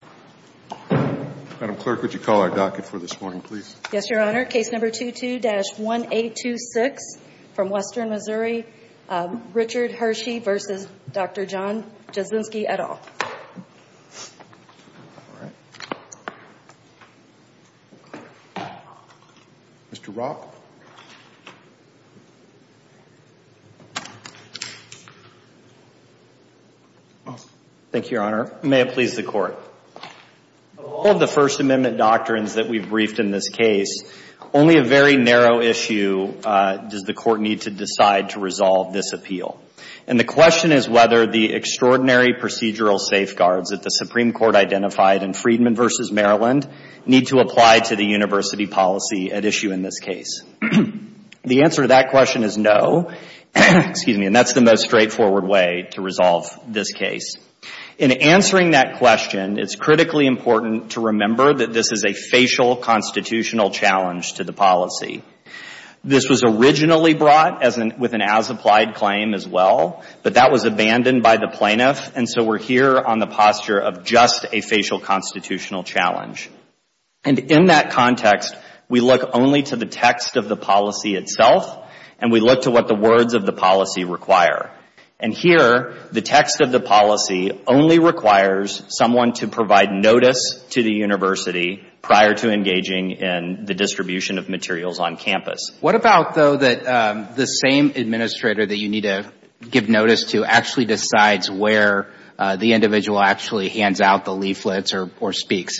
at all. Mr. Rock? Thank you, Your Honor. May it please the Court. Mr. Rock, I'm going to start. Of all of the First Amendment doctrines that we've briefed in this case, only a very narrow issue does the Court need to decide to resolve this appeal. And the question is whether the extraordinary procedural safeguards that the Supreme Court identified in Friedman v. Maryland need to apply to the university policy at issue in this case. The answer to that question is no, and that's the most straightforward way to resolve this case. In answering that question, it's critically important to remember that this is a facial constitutional challenge to the policy. This was originally brought with an as-applied claim as well, but that was abandoned by the plaintiff, and so we're here on the posture of just a facial constitutional challenge. And in that context, we look only to the text of the policy itself, and we look to what the words of the policy require. And here, the text of the policy only requires someone to provide notice to the university prior to engaging in the distribution of materials on campus. What about, though, that the same administrator that you need to give notice to actually decides where the individual actually hands out the leaflets or speaks?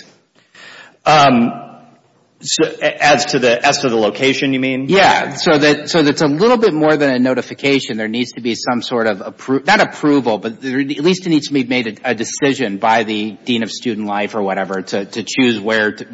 As to the location, you mean? Yeah. So that's a little bit more than a notification. There needs to be some sort of, not approval, but at least it needs to be made a decision by the dean of student life or whatever to choose where the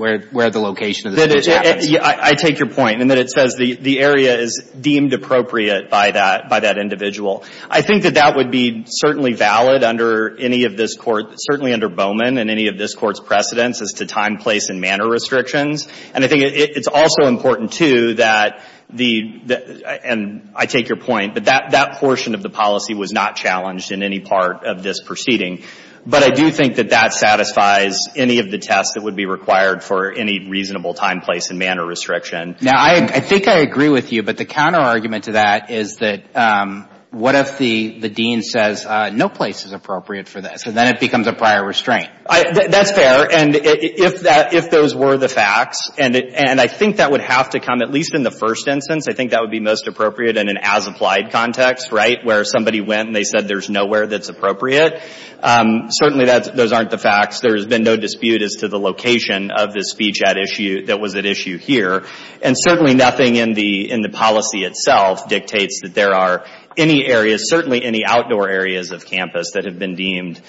location of the students happens. I take your point in that it says the area is deemed appropriate by that individual. I think that that would be certainly valid under any of this Court, certainly under Bowman and any of this Court's precedents as to time, place and manner restrictions. And I think it's also important, too, that the, and I take your point, but that portion of the policy was not challenged in any part of this proceeding. But I do think that that satisfies any of the tests that would be required for any reasonable time, place and manner restriction. Now, I think I agree with you, but the counterargument to that is that what if the dean says no place is appropriate for this, and then it becomes a prior restraint? That's fair. And if that, if those were the facts, and I think that would have to come at least in the first instance, I think that would be most appropriate in an as-applied context, right, where somebody went and they said there's nowhere that's appropriate. Certainly that's, those aren't the facts. There's been no dispute as to the location of this speech at issue, that was at issue here. And certainly nothing in the, in the policy itself dictates that there are any areas, certainly any outdoor areas of campus that have been deemed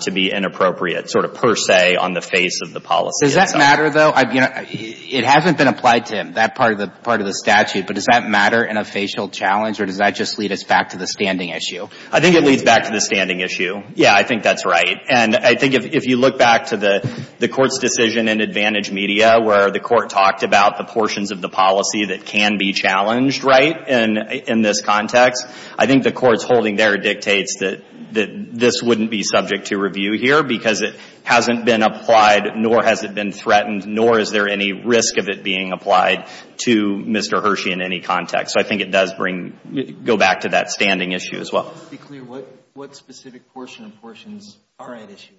to be inappropriate, sort of per se, on the face of the policy itself. Does that matter, though? I mean, it hasn't been applied to that part of the, part of the statute, but does that matter in a facial challenge, or does that just lead us back to the standing issue? I think it leads back to the standing issue. Yeah, I think that's right. And I think if you look back to the Court's decision in Advantage Media, where the Court talked about the portions of the policy that can be challenged, right, in this context, I think the Court's holding there dictates that, that this wouldn't be subject to review here because it hasn't been applied, nor has it been threatened, nor is there any risk of it being applied to Mr. Hershey in any context. So I think it does bring, go back to that standing issue as well. Just to be clear, what, what specific portion of portions are at issue?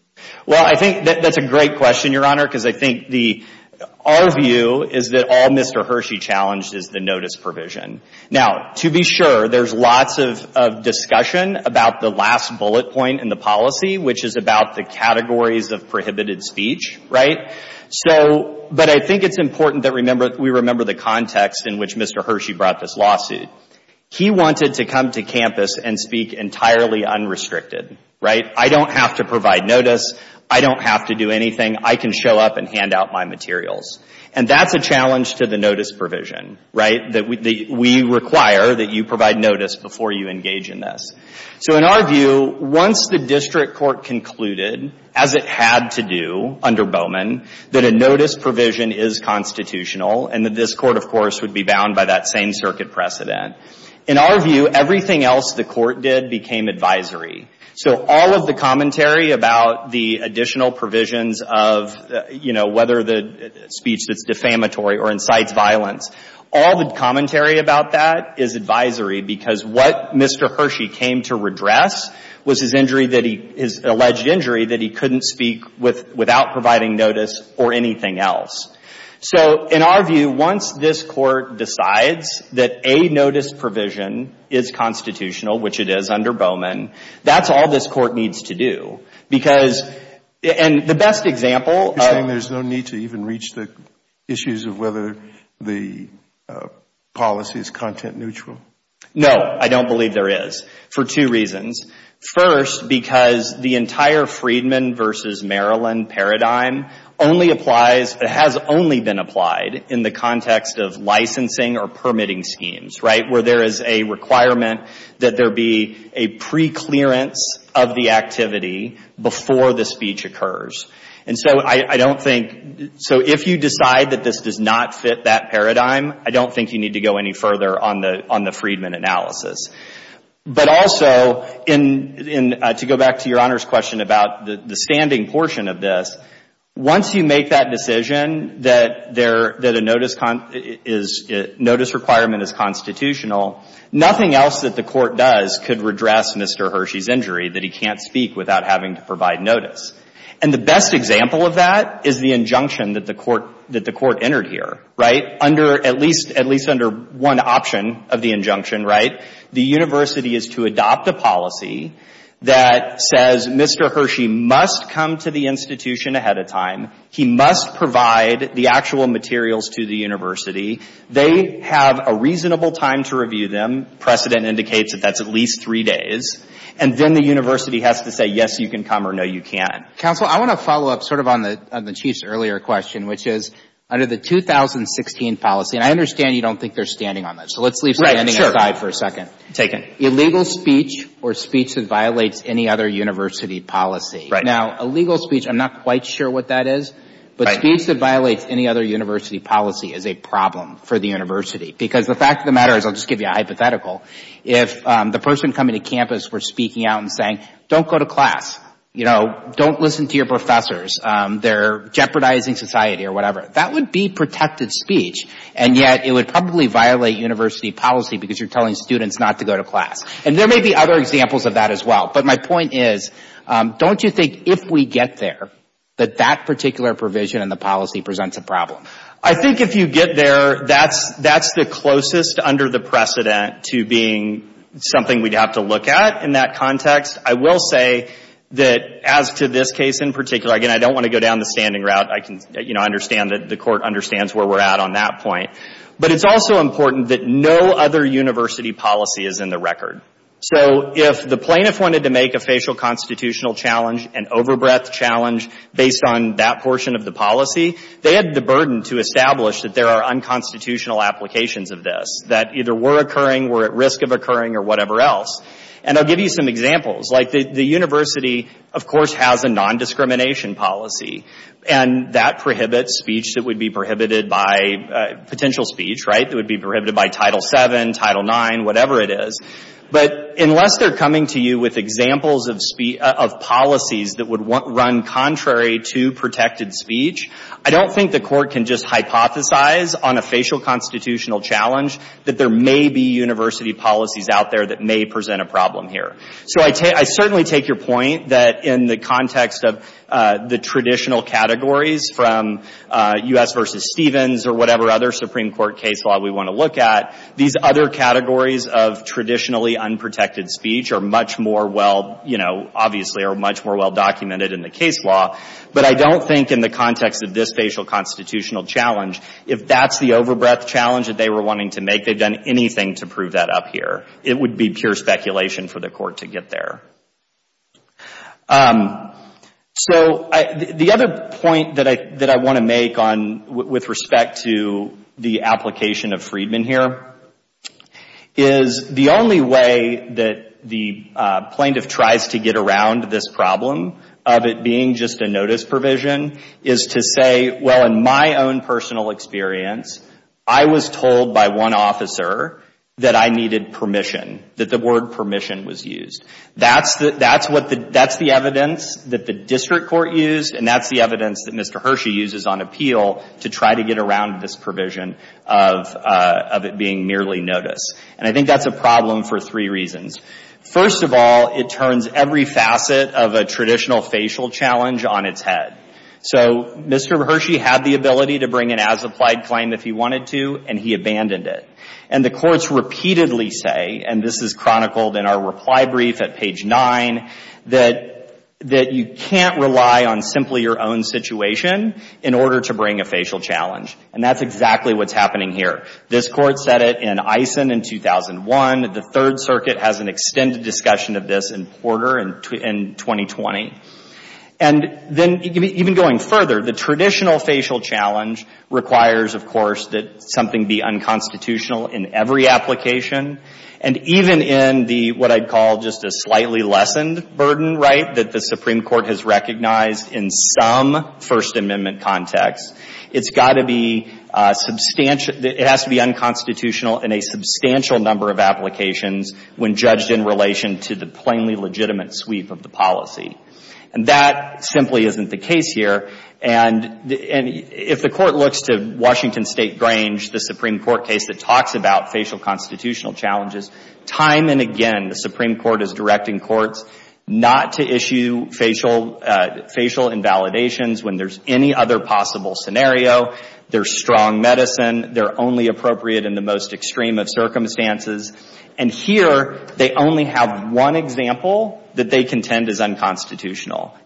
Well, I think that's a great question, Your Honor, because I think the, our view is that all Mr. Hershey challenged is the notice provision. Now, to be sure, there's lots of, of discussion about the last bullet point in the policy, which is about the categories of prohibited speech, right? So, but I think it's important that remember, we remember the context in which Mr. Hershey brought this lawsuit. He wanted to come to campus and speak entirely unrestricted, right? I don't have to provide notice. I don't have to do anything. I can show up and hand out my materials. And that's a challenge to the notice provision, right? That we, we require that you provide notice before you engage in this. So in our view, once the district court concluded, as it had to do under Bowman, that a notice provision is constitutional and that this court, of course, would be bound by that same circuit precedent, in our view, everything else the court did became advisory. So all of the commentary about the additional provisions of, you know, whether the speech that's defamatory or incites violence, all the commentary about that is advisory because what Mr. Hershey came to redress was his injury that he, his alleged injury that he couldn't speak with, without providing notice or anything else. So in our view, once this court decides that a notice provision is constitutional, which it is under Bowman, that's all this court needs to do. Because, and the best example of You're saying there's no need to even reach the issues of whether the policy is content neutral? No, I don't believe there is, for two reasons. First, because the entire Freedman versus right, where there is a requirement that there be a preclearance of the activity before the speech occurs. And so I don't think, so if you decide that this does not fit that paradigm, I don't think you need to go any further on the Freedman analysis. But also, to go back to your Honor's question about the standing portion of this, once you make that decision that there, that a notice is, notice requirement is constitutional, nothing else that the court does could redress Mr. Hershey's injury that he can't speak without having to provide notice. And the best example of that is the injunction that the court, that the court entered here, right? Under, at least, at least under one option of the injunction, right? The university is to adopt a policy that says Mr. Hershey must come to the institution ahead of time. He must provide the actual materials to the university. They have a reasonable time to review them. Precedent indicates that that's at least three days. And then the university has to say, yes, you can come, or no, you can't. Counsel, I want to follow up sort of on the Chief's earlier question, which is, under the 2016 policy, and I understand you don't think they're standing on that. So let's leave standing aside for a second. Right, sure. Taken. Illegal speech or speech that violates any other university policy. Right. Now, illegal speech, I'm not quite sure what that is. But speech that violates any other university policy is a problem for the university. Because the fact of the matter is, I'll just give you a hypothetical. If the person coming to campus were speaking out and saying, don't go to class. You know, don't listen to your professors. They're jeopardizing society or whatever. That would be protected speech. And yet, it would probably violate university policy because you're telling students not to go to class. And there may be other examples of that as well. But my point is, don't you think if we get there, that that particular provision in the policy presents a problem? I think if you get there, that's the closest under the precedent to being something we'd have to look at in that context. I will say that as to this case in particular, again, I don't want to go down the standing route. I can, you know, understand that the Court understands where we're at on that point. But it's also important that no other university policy is in the record. So if the plaintiff wanted to make a facial constitutional challenge, an over-breath challenge, based on that portion of the policy, they had the burden to establish that there are unconstitutional applications of this. That either we're occurring, we're at risk of occurring, or whatever else. And I'll give you some examples. Like the university, of course, has a non-discrimination policy. And that prohibits speech that would be prohibited by potential speech, right? That would be prohibited by Title VII, Title IX, whatever it is. But unless they're coming to you with examples of policies that would run contrary to protected speech, I don't think the Court can just hypothesize on a facial constitutional challenge that there may be university policies out there that may present a problem here. So I certainly take your point that in the context of the traditional categories from U.S. v. Stevens or whatever other Supreme Court case law we want to look at, these other categories of traditionally unprotected speech are much more well, you know, obviously are much more well documented in the case law. But I don't think in the context of this facial constitutional challenge, if that's the over-breath challenge that they were wanting to make, they've done anything to prove that up here. It would be pure speculation for the Court to get there. So, the other point that I want to make on with respect to the application of Friedman here is the only way that the plaintiff tries to get around this problem of it being just a notice provision is to say, well, in my own personal experience, I was told by one of my lawyers that I was going to get a notice. And that's the evidence that the district court used, and that's the evidence that Mr. Hershey uses on appeal to try to get around this provision of it being merely notice. And I think that's a problem for three reasons. First of all, it turns every facet of a traditional facial challenge on its head. So, Mr. Hershey had the ability to bring an as-applied claim if he wanted to, and he abandoned it. And the courts repeatedly say, and this is chronicled in our reply brief at page 9, that you can't rely on simply your own situation in order to bring a facial challenge. And that's exactly what's happening here. This Court said it in Eisen in 2001. The Third Circuit has an extended discussion of this in Porter in 2020. And then, even going further, the traditional facial challenge requires, of course, that something be unconstitutional in every application. And even in the, what I'd call just a slightly lessened burden, right, that the Supreme Court has recognized in some First Amendment context, it's got to be substantial, it has to be unconstitutional in a substantial number of applications when judged in relation to the plainly legitimate sweep of the policy. And that simply isn't the case here. And if the Court looks to Washington State Grange, the Supreme Court case that talks about facial constitutional challenges, time and again the Supreme Court is directing courts not to issue facial invalidations when there's any other possible scenario. They're strong medicine. They're only appropriate in the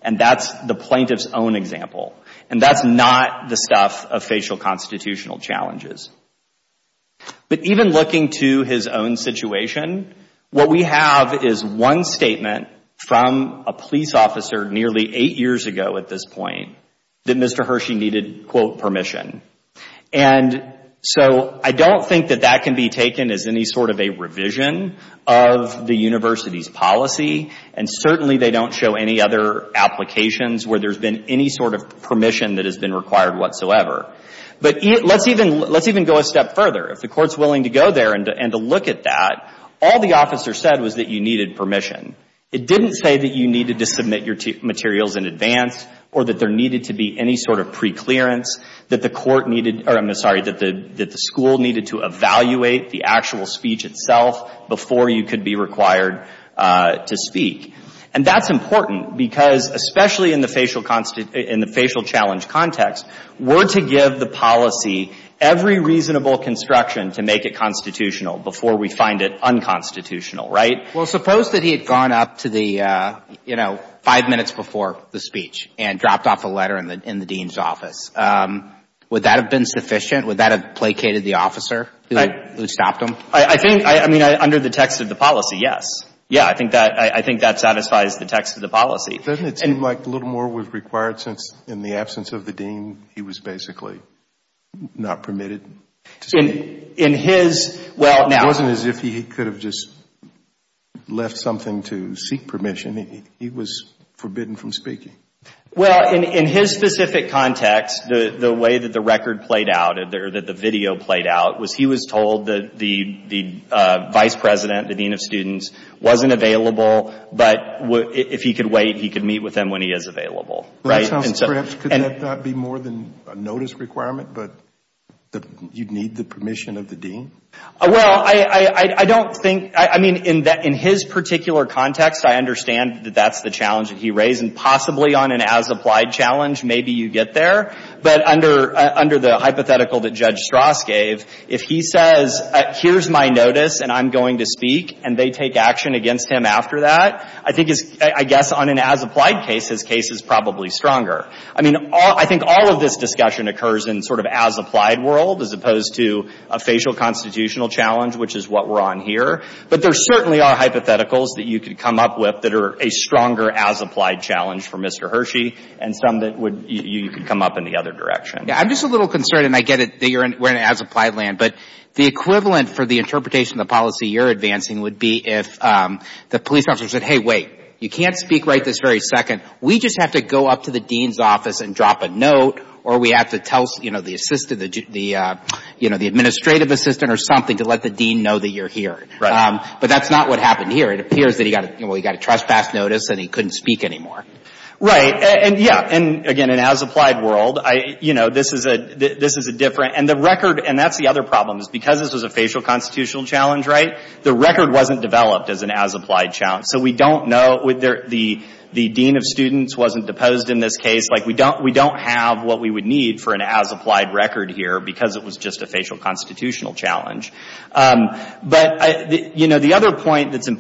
And that's the plaintiff's own example. And that's not the stuff of facial constitutional challenges. But even looking to his own situation, what we have is one statement from a police officer nearly eight years ago at this point that Mr. Hershey needed, quote, permission. And so I don't think that that can be taken as any sort of a revision of the university's policy. And certainly they don't show any other applications where there's been any sort of permission that has been required whatsoever. But let's even go a step further. If the Court's willing to go there and to look at that, all the officer said was that you needed permission. It didn't say that you needed to submit your materials in advance or that there needed to be any sort of preclearance, that the court needed or, I'm sorry, that the school needed to evaluate the actual speech itself before you could be required to speak. And that's important because, especially in the facial challenge context, we're to give the policy every reasonable construction to make it constitutional before we find it unconstitutional, right? Well, suppose that he had gone up to the, you know, five minutes before the speech and dropped off a letter in the dean's office. Would that have been sufficient? Would that have placated the officer who stopped him? I think, I mean, under the text of the policy, yes. Yeah, I think that satisfies the text of the policy. Doesn't it seem like a little more was required since in the absence of the dean, he was basically not permitted to speak? In his, well, now It wasn't as if he could have just left something to seek permission. He was forbidden from speaking. Well, in his specific context, the way that the record played out or that the video played out was he was told that the vice president, the dean of students, wasn't available, but if he could wait, he could meet with him when he is available, right? So perhaps could that be more than a notice requirement, but you'd need the permission of the dean? Well, I don't think, I mean, in his particular context, I understand that that's the challenge that he raised, and possibly on an as-applied challenge, maybe you get there. But under the hypothetical that Judge Strass gave, if he says, here's my notice and I'm going to speak, and they take action against him after that, I think it's, I guess on an as-applied case, his case is probably stronger. I mean, I think all of this discussion occurs in sort of as-applied world as opposed to a facial constitutional challenge, which is what we're on here. But there certainly are hypotheticals that you could come up with that are a stronger as-applied challenge for Mr. Hershey and some that would, you could come up in the other direction. I'm just a little concerned, and I get it, that you're in, we're in an as-applied land, but the equivalent for the interpretation of the policy you're advancing would be if the police officer said, hey, wait, you can't speak right this very second. We just have to go up to the dean's office and drop a note, or we have to tell, you know, the assistant, the, you know, the administrative assistant or something to let the dean know that you're here. Right. But that's not what happened here. It appears that he got, you know, he got a trespass notice and he couldn't speak anymore. Right. And, yeah, and again, in an as-applied world, I, you know, this is a, this is a different, and the record, and that's the other problem, is because this was a facial constitutional challenge, right, the record wasn't developed as an as-applied challenge. So we don't know, the dean of students wasn't deposed in this case. Like, we don't, we don't have what we would need for an as-applied record here because it was just a facial constitutional challenge. But, you know, the other point that's in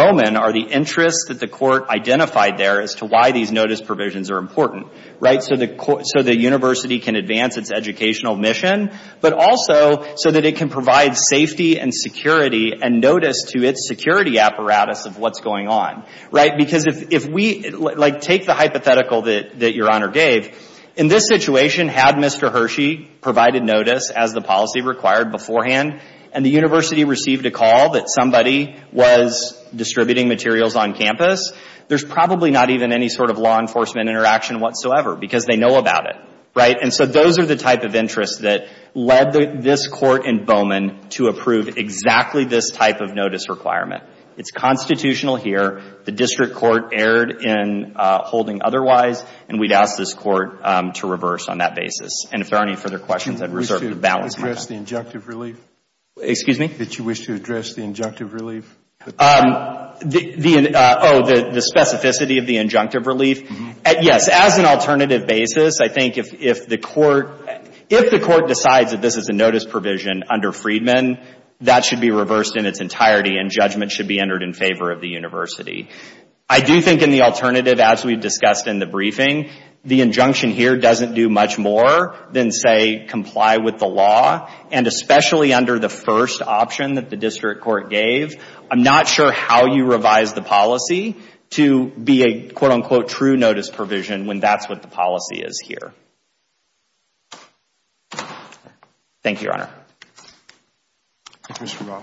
Bowman are the interests that the court identified there as to why these notice provisions are important. Right. So the, so the university can advance its educational mission, but also so that it can provide safety and security and notice to its security apparatus of what's going on. Right. Because if we, like, take the hypothetical that your honor gave. In this situation, had Mr. Hershey provided notice as the policy required beforehand, and the university received a call that somebody was distributing materials on campus, there's probably not even any sort of law enforcement interaction whatsoever because they know about it. Right. And so those are the type of interests that led this court in Bowman to approve exactly this type of notice requirement. It's constitutional here. The district court erred in holding otherwise, and we'd ask this court to reverse on that basis. And if there are any further questions, I'd reserve the balance of my time. Do you wish to address the injunctive relief? Excuse me? Did you wish to address the injunctive relief? The, oh, the specificity of the injunctive relief? Yes. As an alternative basis, I think if the court, if the court decides that this is a notice provision under Freedman, that should be reversed in its entirety and judgment should be entered in favor of the university. I do think in the alternative, as we've discussed in the briefing, the injunction here doesn't do much more than, say, comply with the law. And especially under the first option that the district court gave, I'm not sure how you revise the policy to be a quote unquote Mr. Wren,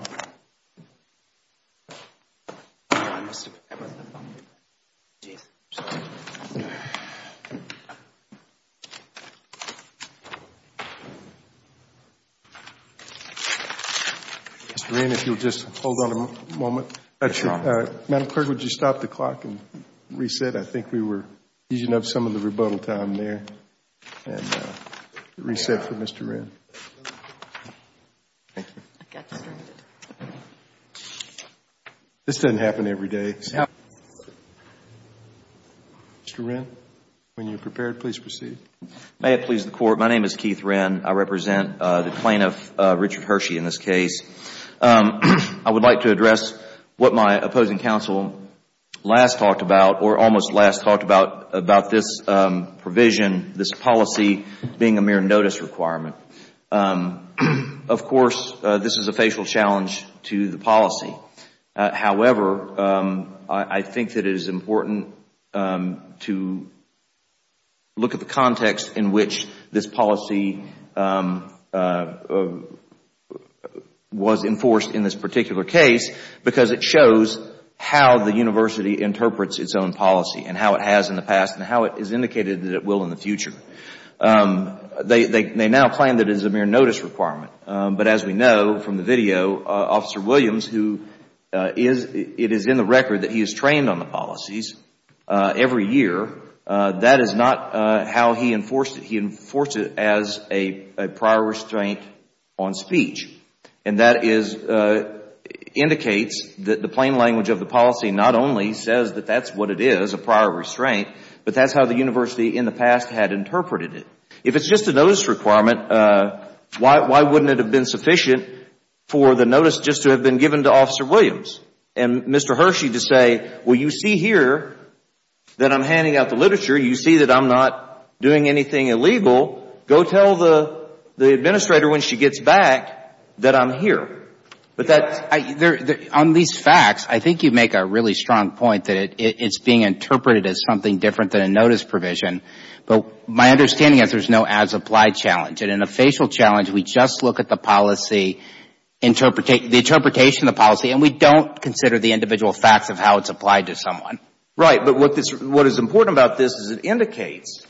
if you'll just hold on a moment. Madam Clerk, would you stop the clock and reset? I think we were using up some of the rebuttal time there. And reset for Mr. Wren. This doesn't happen every day. It happens. Mr. Wren, when you're prepared, please proceed. May it please the Court, my name is Keith Wren. I represent the plaintiff, Richard Hershey, in this case. I would like to address what my opposing counsel last talked about, or almost last talked about, about this provision, this policy being a mere notice requirement. Of course, this is a facial challenge to the policy. However, I think that it is important to look at the context in which this policy was enforced in this particular case because it shows how the university interprets its own policy and how it has in the past and how it is indicated that it will in the future. They now plan that it is a mere notice requirement. But as we know from the video, Officer Williams, it is in the record that he is trained on the policies every year. That is not how he enforced it. He enforced it as a prior restraint on speech. And that indicates that the plain the past had interpreted it. If it is just a notice requirement, why wouldn't it have been sufficient for the notice just to have been given to Officer Williams and Mr. Hershey to say, well, you see here that I am handing out the literature. You see that I am not doing anything illegal. Go tell the administrator when she gets back that I am here. On these facts, I think you make a really strong point that it is being interpreted as something different than a notice provision. But my understanding is that there is no as applied challenge. In a facial challenge, we just look at the interpretation of the policy and we don't consider the individual facts of how it is applied to someone. Right. But what is important about this is that it indicates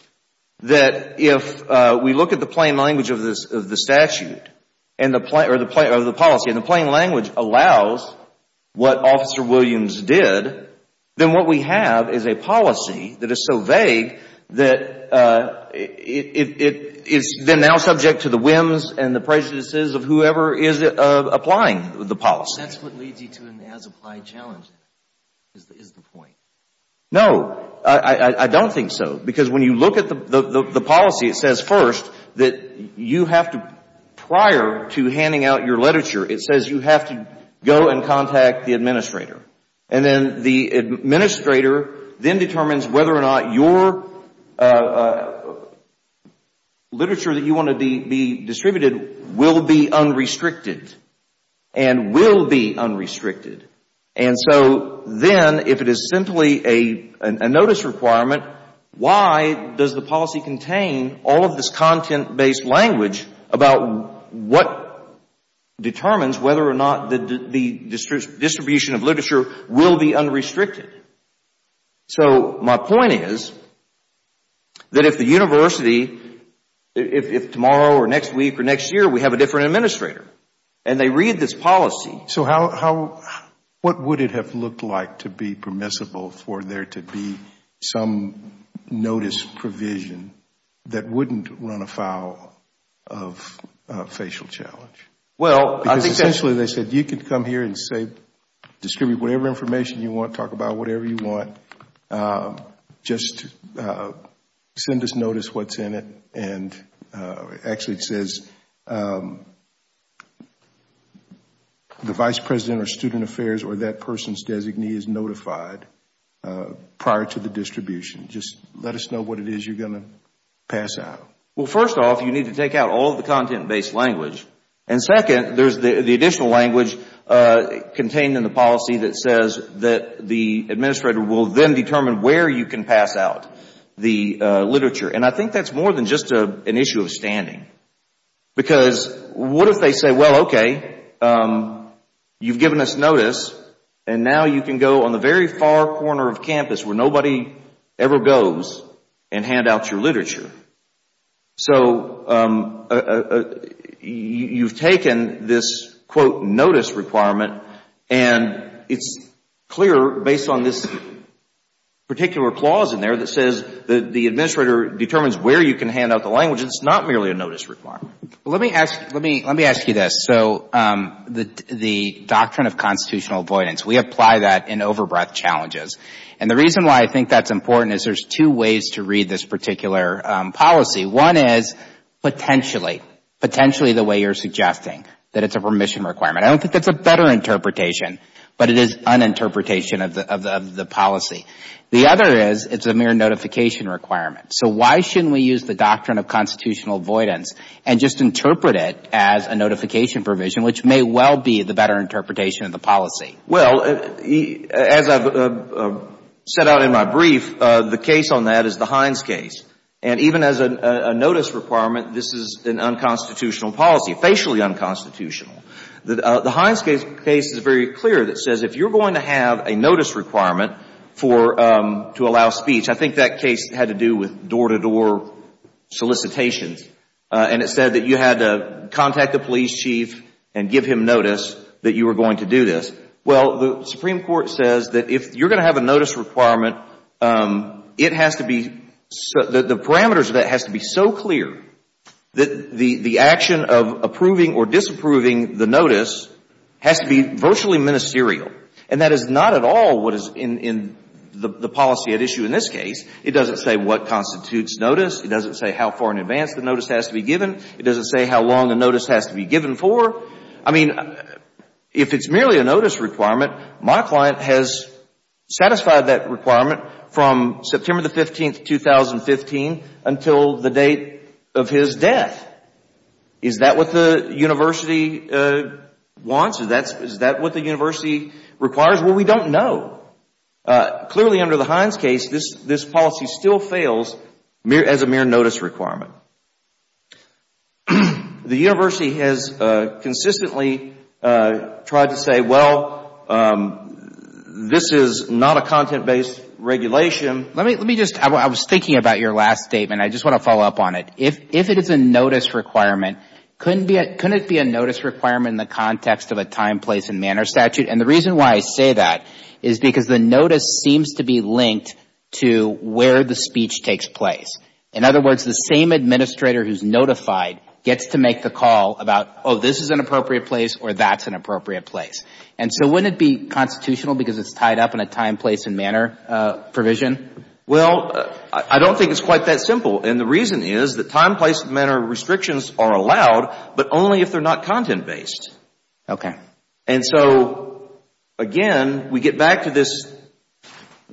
that if we look at the plain language of the statute or the policy and the plain language allows what Officer Williams did, then what we have is a policy that is so vague that it is then now subject to the whims and the prejudices of whoever is applying the policy. That is what leads you to an as applied challenge is the point. No. I don't think so. Because when you look at the policy, it says first that you have to prior to handing out your literature, it says you have to go and contact the administrator. And then the administrator then determines whether or not your literature that you want to be distributed will be unrestricted and will be unrestricted. And so then if it is simply a notice requirement, why does the policy contain all of this content based language about what determines whether or not the distribution of literature will be unrestricted? So my point is that if the university, if tomorrow or next week or next year we have a different administrator and they read this policy So how, what would it have looked like to be permissible for there to be some notice provision that wouldn't run afoul of facial challenge? Well, I think essentially they said you can come here and say, distribute whatever information you want, talk about whatever you want, just send us notice what's in it. Actually it says the vice president of student affairs or that person's designee is notified prior to the distribution. Just let us know what it is you're going to pass out. Well, first off, you need to take out all of the content based language. And second, there's the additional language contained in the policy that says that the administrator will then determine where you can pass out the literature. And I think that's more than just an issue of standing. Because what if they say, well, okay, you've given us notice and now you can go on the very far corner of campus where nobody ever goes and hand out your literature. So you've taken this, quote, notice requirement and it's clear based on this particular clause in there that says that the administrator determines where you can hand out the language and it's not merely a notice requirement. Let me ask you this. So the doctrine of constitutional avoidance, we apply that in overbreadth challenges. And the reason why I think that's important is there's two ways to read this particular policy. One is potentially, potentially the way you're suggesting, that it's a permission requirement. I don't think that's a better interpretation, but it is an interpretation of the policy. The other is it's a mere notification requirement. So why shouldn't we use the doctrine of constitutional avoidance and just interpret it as a notification provision, which may well be the better interpretation of the policy? Well, as I've set out in my brief, the case on that is the Hines case. And even as a notice requirement, this is an unconstitutional policy, facially unconstitutional. The Hines case is very clear that says if you're going to have a notice requirement to allow speech, I think that case had to do with door-to-door solicitations. And it said that you had to contact the police chief and give him notice that you were going to do this. Well, the Supreme Court says that if you're going to have a notice requirement, it has to be, the parameters of that has to be so clear that the action of approving or disapproving the notice has to be virtually ministerial. And that is not at all what is in the policy at issue in this case. It doesn't say what constitutes notice. It doesn't say how far in advance the notice has to be given. It doesn't say how long the notice has to be given for. I mean, if it's merely a notice requirement, my client has satisfied that requirement from September the 15th, 2015 until the date of his death. Is that what the university wants? Is that what the university requires? Well, we don't know. Clearly, under the Hines case, this policy still fails as a mere notice requirement. The university has consistently tried to say, well, this is not a content-based regulation. Let me just, I was thinking about your last statement. I just want to follow up on it. If it is a notice requirement, couldn't it be a notice requirement in the context of a time, place, and manner statute? And the reason why I say that is because the notice seems to be linked to where the speech takes place. In other words, the same administrator who is notified gets to make the call about, oh, this is an appropriate place or that's an appropriate place. And so wouldn't it be constitutional because it's tied up in a time, place, and manner provision? Well, I don't think it's quite that simple. And the reason is that time, place, and manner restrictions are allowed, but only if they are not content-based. Okay. And so, again, we get back to this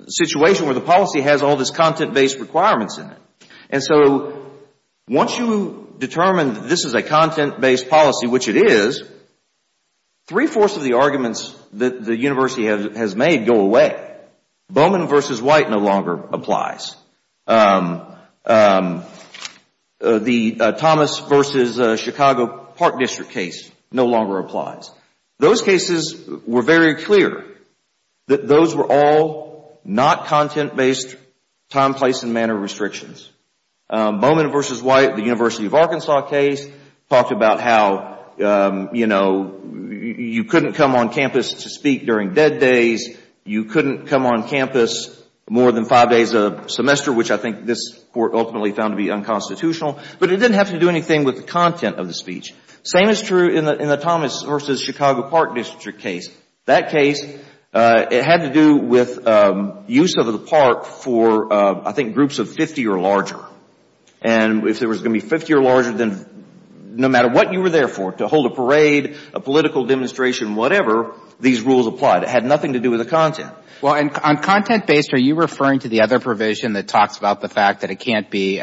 situation where the policy has all this content-based requirements in it. And so once you determine that this is a content-based policy, which it is, three-fourths of the arguments that the university has made go away. Bowman v. White no longer applies. The Thomas v. Chicago Park District case no longer applies. Those cases were very clear that those were all not content-based time, place, and manner restrictions. Bowman v. White, the University of Arkansas case, talked about how, you know, you couldn't come on campus to speak during dead days. You couldn't come on campus more than five days a semester, which I think this Court ultimately found to be unconstitutional. But it didn't have to do anything with the content of the speech. Same is true in the Thomas v. Chicago Park District case. That case, it had to do with use of the park for, I think, groups of 50 or larger. And if there was going to be 50 or larger, then no matter what you were there for, to hold a parade, a political demonstration, whatever, these rules applied. It had nothing to do with the content. Well, on content-based, are you referring to the other provision that talks about the fact that it can't be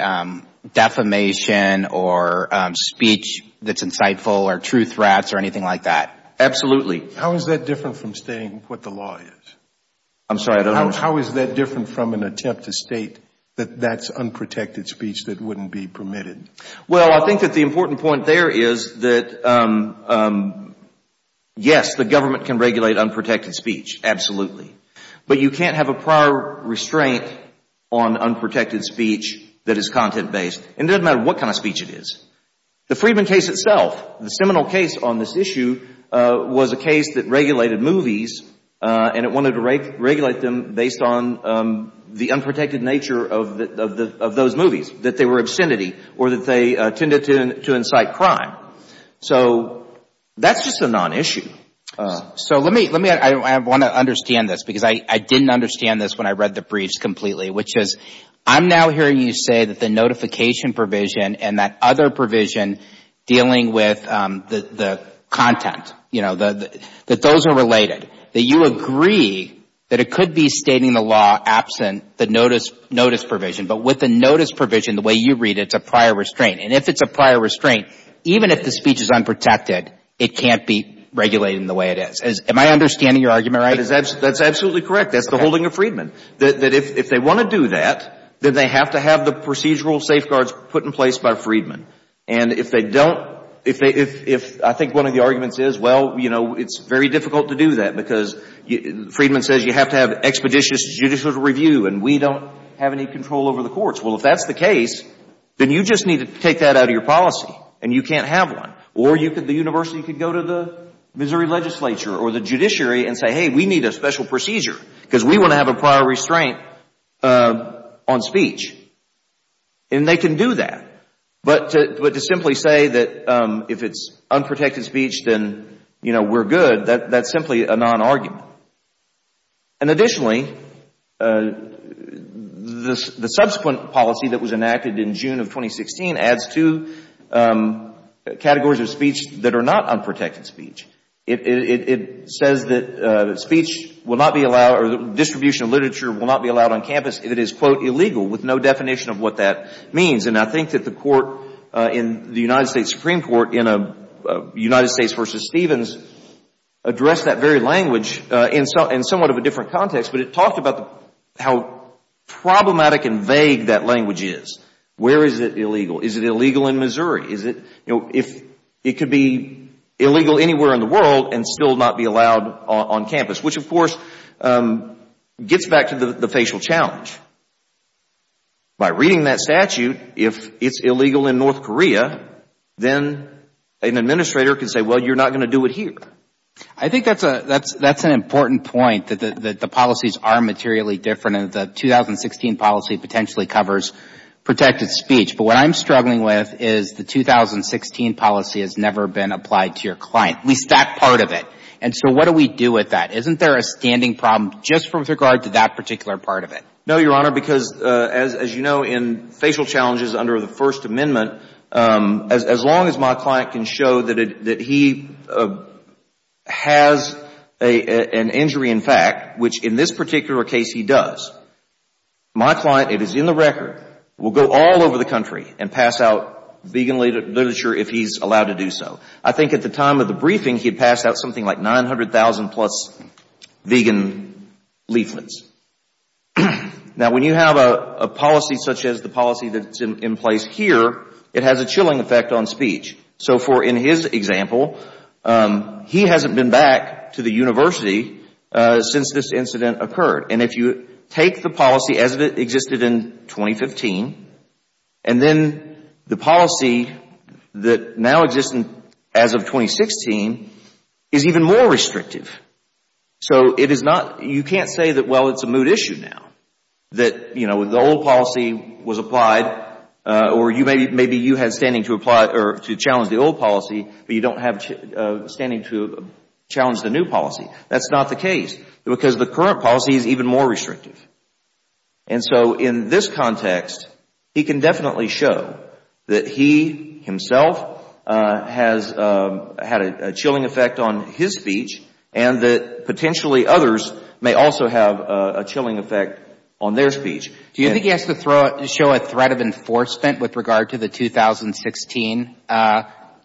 defamation or speech that's insightful or true threats or anything like that? Absolutely. How is that different from stating what the law is? I'm sorry, I don't understand. How is that different from an attempt to state that that's unprotected speech that wouldn't be permitted? Well, I think that the important point there is that, yes, the government can regulate unprotected speech, absolutely. But you can't have a prior restraint on unprotected speech that is content-based, and it doesn't matter what kind of speech it is. The Friedman case itself, the seminal case on this issue, was a case that regulated movies and it wanted to regulate them based on the unprotected nature of those movies, that they were obscenity or that they tended to incite crime. So that's just a non-issue. So I want to understand this because I didn't understand this when I read the briefs completely, which is I'm now hearing you say that the notification provision and that other provision dealing with the content, that those are related, that you agree that it could be stating the law absent the notice provision, but with the notice provision, the way you read it, it's a prior restraint. And if it's a prior restraint, even if the speech is unprotected, it can't be regulated in the way it is. Am I understanding your argument right? That's absolutely correct. That's the holding of Friedman, that if they want to do that, then they have to have the procedural safeguards put in place by Friedman. And if they don't, if I think one of the arguments is, well, you know, it's very difficult to do that because Friedman says you have to have expeditious judicial review and we don't have any control over the courts. Well, if that's the case, then you just need to take that out of your policy and you can't have one. Or the university could go to the Missouri legislature or the judiciary and say, hey, we need a special procedure because we want to have a prior restraint on speech. And they can do that. But to simply say that if it's unprotected speech, then, you know, we're good, that's simply a non-argument. And additionally, the subsequent policy that was enacted in June of 2016 adds to categories of speech that are not unprotected speech. It says that speech will not be allowed or distribution of literature will not be allowed on campus if it is, quote, illegal, with no definition of what that means. And I think that the court in the United States Supreme Court in a United States v. Stevens addressed that very language in somewhat of a different context, but it talked about how problematic and vague that language is. Where is it illegal? Is it illegal in Missouri? Is it, you know, if it could be illegal anywhere in the world and still not be allowed on campus, which of course gets back to the facial challenge. By reading that statute, if it's illegal in North Korea, then an administrator can say, well, you're not going to do it here. I think that's an important point, that the policies are materially different, and the 2016 policy potentially covers protected speech. But what I'm struggling with is the 2016 policy has never been applied to your client, at least that part of it. And so what do we do with that? Isn't there a standing problem just with regard to that particular part of it? No, Your Honor, because as you know, in facial challenges under the First Amendment, as long as my client can show that he has an injury in fact, which in this particular case he does, my client, it is in the record, will go all over the country and pass out vegan literature if he's allowed to do so. I think at the time of the briefing, he had passed out something like 900,000 plus vegan leaflets. Now, when you have a policy such as the policy that's in place here, it has a chilling effect on speech. So for in his example, he hasn't been back to the university since this incident occurred. And if you take the policy as it existed in 2015, and then the policy that now exists as of 2016 is even more restrictive. So you can't say that, well, it's a moot issue now, that the old policy was applied, or maybe you had standing to challenge the old policy, but you don't have standing to challenge the new policy. That's not the case, because the current policy is even more restrictive. And so in this context, he can definitely show that he himself has had a chilling effect on his speech, and that potentially others may also have a chilling effect on their speech. Do you think he has to show a threat of enforcement with regard to the 2016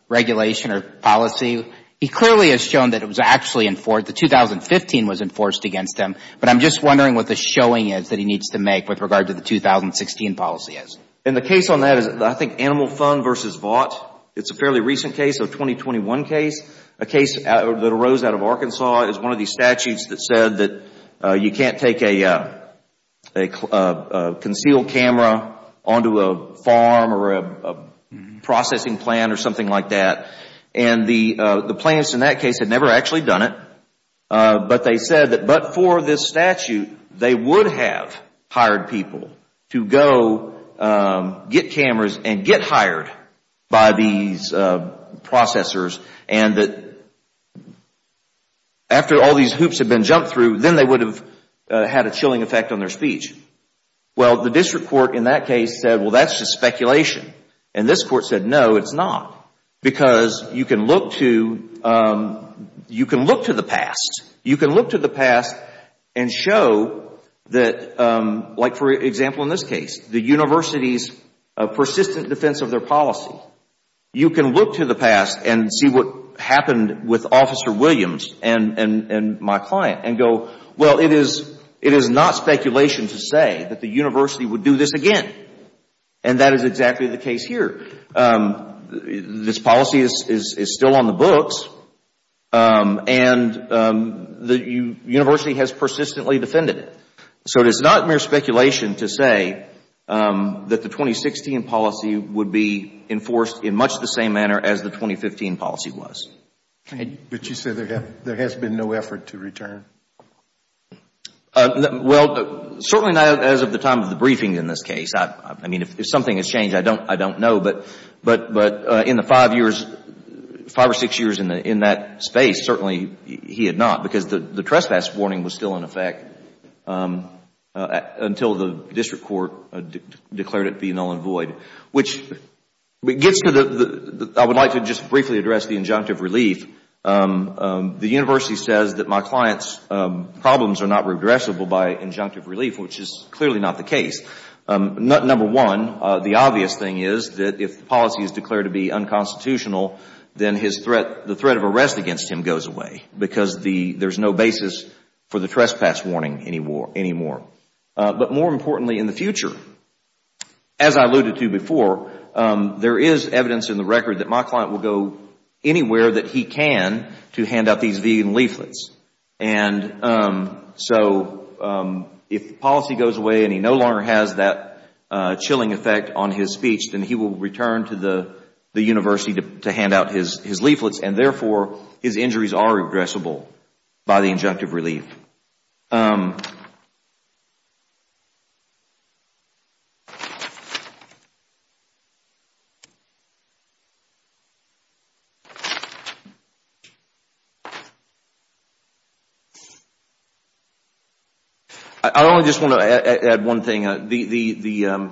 regulation or policy? He clearly has shown that it was actually enforced. The 2015 was enforced against him. But I'm just wondering what the showing is that he needs to make with regard to the 2016 policy is. And the case on that is, I think, Animal Fund versus Vought. It's a fairly recent case, a 2021 case. A case that arose out of Arkansas is one of these statutes that said that you can't take a concealed camera onto a farm or a processing plant or something like that. And the plants in that case had never actually done it. But they said that, but for this statute, they would have hired people to go get cameras and get hired by these processors and that after all these hoops had been jumped through, then they would have had a chilling effect on their speech. Well, the district court in that case said, well, that's just speculation. And this court said, no, it's not. Because you can look to the past. You can look to the past and show that, like for example in this case, the university's persistent defense of their policy. You can look to the past and see what happened with Officer Williams and my client and go, well, it is not speculation to say that the university would do this again. And that is exactly the case here. This policy is still on the books and the university has persistently defended it. So it is not mere speculation to say that the 2016 policy would be enforced in much the same manner as the 2015 policy was. But you said there has been no effort to return. Well, certainly not as of the time of the briefing in this case. I mean, if something has changed, I don't know. But in the five or six years in that space, certainly he had not. Because the trespass warning was still in effect until the district court declared it be null and void. Which gets to the, I would like to just briefly address the injunctive relief. The university says that my client's problems are not regressible by injunctive relief, which is clearly not the case. Number one, the obvious thing is that if the policy is declared to be unconstitutional, then the threat of arrest against him goes away. Because there is no basis for the trespass warning anymore. But more importantly in the future, as I alluded to before, there is evidence in the record that my client will go anywhere that he can to hand out these vegan leaflets. And so if the policy goes away and he no longer has that chilling effect on his speech, then he will return to the university to hand out his leaflets. And therefore, his injuries are regressible by the injunctive relief. I only just want to add one thing. The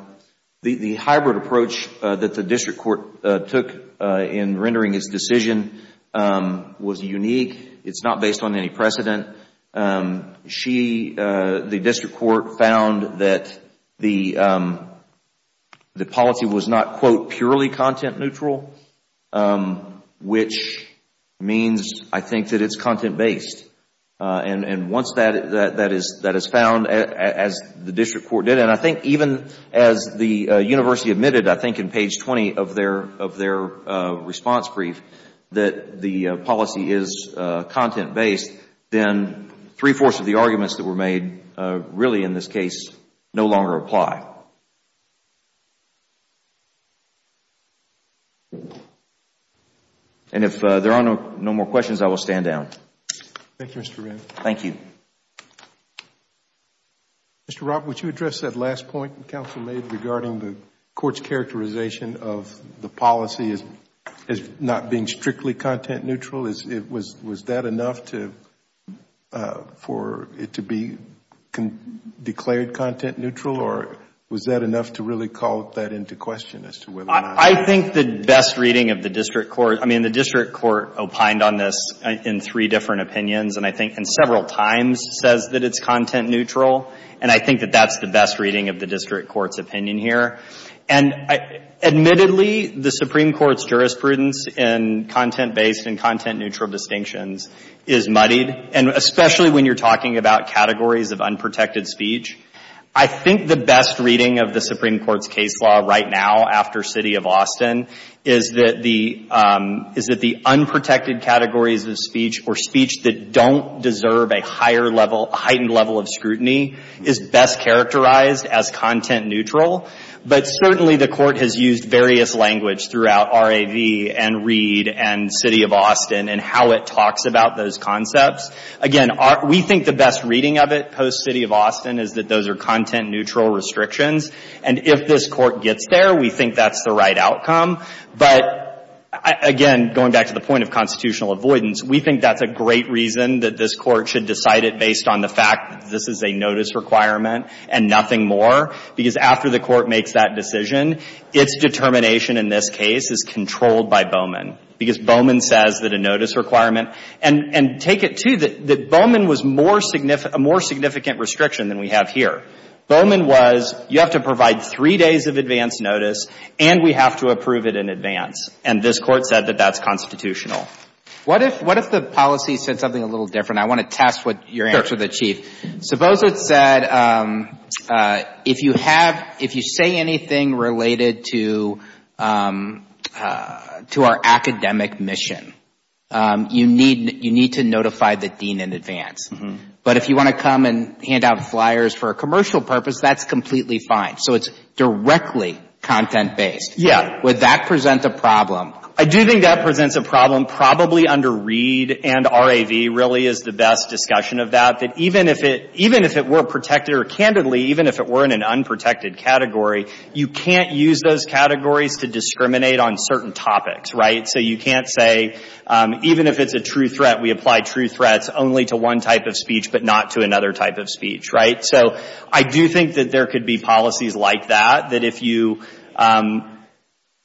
hybrid approach that the district court took in rendering its decision was unique. It's not based on any precedent. The district court found that the policy was not, quote, purely content neutral, which means I think that it's content based. And once that is found, as the district court did, and I think even as the university admitted, I think in page 20 of their response brief, that the policy is content based, then three-fourths of the arguments that were made really, in this case, no longer apply. And if there are no more questions, I will stand down. Thank you, Mr. Renn. Thank you. Mr. Robb, would you address that last point the counsel made regarding the court's characterization of the policy as not being strictly content neutral? Was that enough for it to be declared content neutral, or was that enough to really call that into question as to whether or not? I think the best reading of the district court, I mean, the district court opined on this in three different opinions, and I think several times says that it's content neutral. And I think that that's the best reading of the district court's opinion here. And admittedly, the Supreme Court's jurisprudence in content based and content neutral distinctions is muddied, and especially when you're talking about categories of unprotected speech. I think the best reading of the Supreme Court's case law right now, after City of Austin, is that the unprotected categories of speech, or speech that don't deserve a higher level, a heightened level of scrutiny, is best characterized as content neutral. But certainly the court has used various language throughout RAV and Reed and City of Austin and how it talks about those concepts. Again, we think the best reading of it, post City of Austin, is that those are content neutral restrictions. And if this court gets there, we think that's the right outcome. But again, going back to the point of constitutional avoidance, we think that's a great reason that this court should decide it based on the fact that this is a notice requirement and nothing more, because after the court makes that decision, its determination in this case is controlled by Bowman. Because Bowman says that a notice requirement, and take it, too, that Bowman was a more significant restriction than we have here. Bowman was, you have to provide three days of advance notice, and we have to approve it in advance. And this court said that that's constitutional. What if the policy said something a little different? I want to test your answer to the Chief. Suppose it said, if you say anything related to our academic mission, you need to notify the dean in advance. But if you want to come and hand out flyers for a commercial purpose, that's completely fine. So it's directly content-based. Yeah. Would that present a problem? I do think that presents a problem. Probably under Reed and RAV really is the best discussion of that, that even if it were protected or, candidly, even if it were in an unprotected category, you can't use those categories to discriminate on certain topics, right? So you can't say, even if it's a true threat, we apply true threats only to one type of speech but not to another type of speech, right? So I do think that there could be policies like that, that if you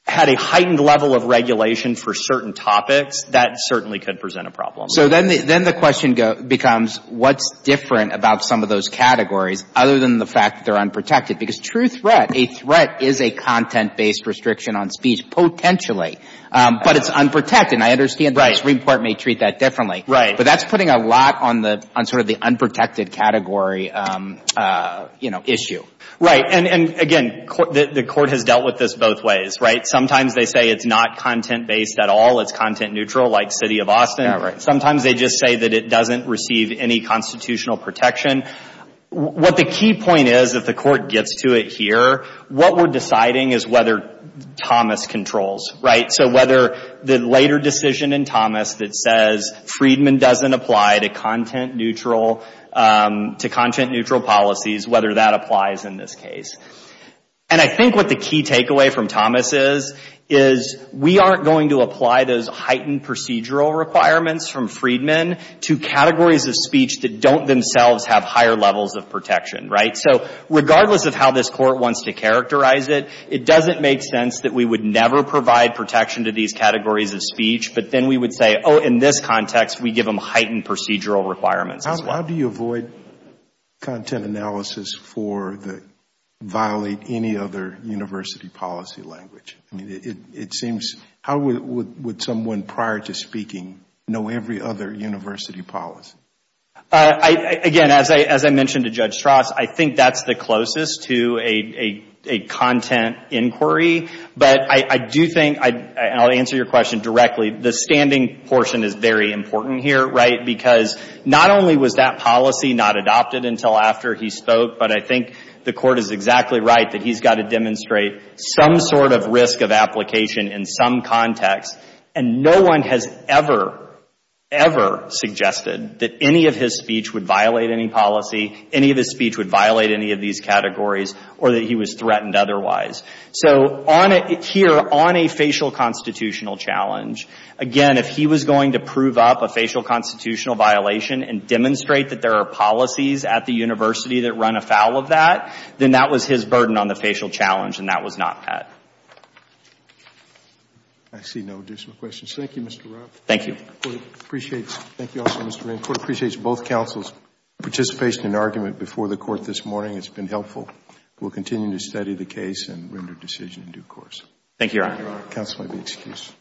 had a heightened level of regulation for certain topics, that certainly could present a problem. So then the question becomes, what's different about some of those categories other than the fact that they're unprotected? Because true threat, a threat is a content-based restriction on speech, potentially. But it's unprotected. And I understand the Supreme Court may treat that differently. Right. But that's putting a lot on sort of the unprotected category, you know, issue. Right. And again, the Court has dealt with this both ways, right? Sometimes they say it's not content-based at all, it's content-neutral, like City of Austin. Yeah, right. Sometimes they just say that it doesn't receive any constitutional protection. What the key point is, if the Court gets to it here, what we're deciding is whether Thomas controls, right? So whether the later decision in Thomas that says, Friedman doesn't apply to content-neutral policies, whether that applies in this case. And I think what the key takeaway from Thomas is, is we aren't going to apply those heightened procedural requirements from Friedman to categories of speech that don't themselves have higher levels of protection, right? So regardless of how this Court wants to characterize it, it doesn't make sense that we would never provide protection to these categories of speech. But then we would say, oh, in this context, we give them heightened procedural requirements. How do you avoid content analysis for the violate any other university policy language? It seems, how would someone prior to speaking know every other university policy? Again, as I mentioned to Judge Strass, I think that's the closest to a content inquiry. But I do think, and I'll answer your question directly, the standing portion is very important here, right? Because not only was that policy not adopted until after he spoke, but I think the Court is exactly right that he's got to demonstrate some sort of risk of application in some context, and no one has ever, ever suggested that any of his speech would violate any policy, any of his speech would violate any of these categories, or that he was threatened otherwise. So here, on a facial constitutional challenge, again, if he was going to prove up a facial constitutional violation and demonstrate that there are policies at the university that run afoul of that, then that was his burden on the facial challenge, and that was not that. I see no additional questions. Thank you, Mr. Roth. Thank you. The Court appreciates. Thank you also, Mr. Rand. The Court appreciates both counsel's participation and argument before the Court this morning. It's been helpful. We'll continue to study the case and render decision in due course. Thank you, Your Honor. Counsel may be excused.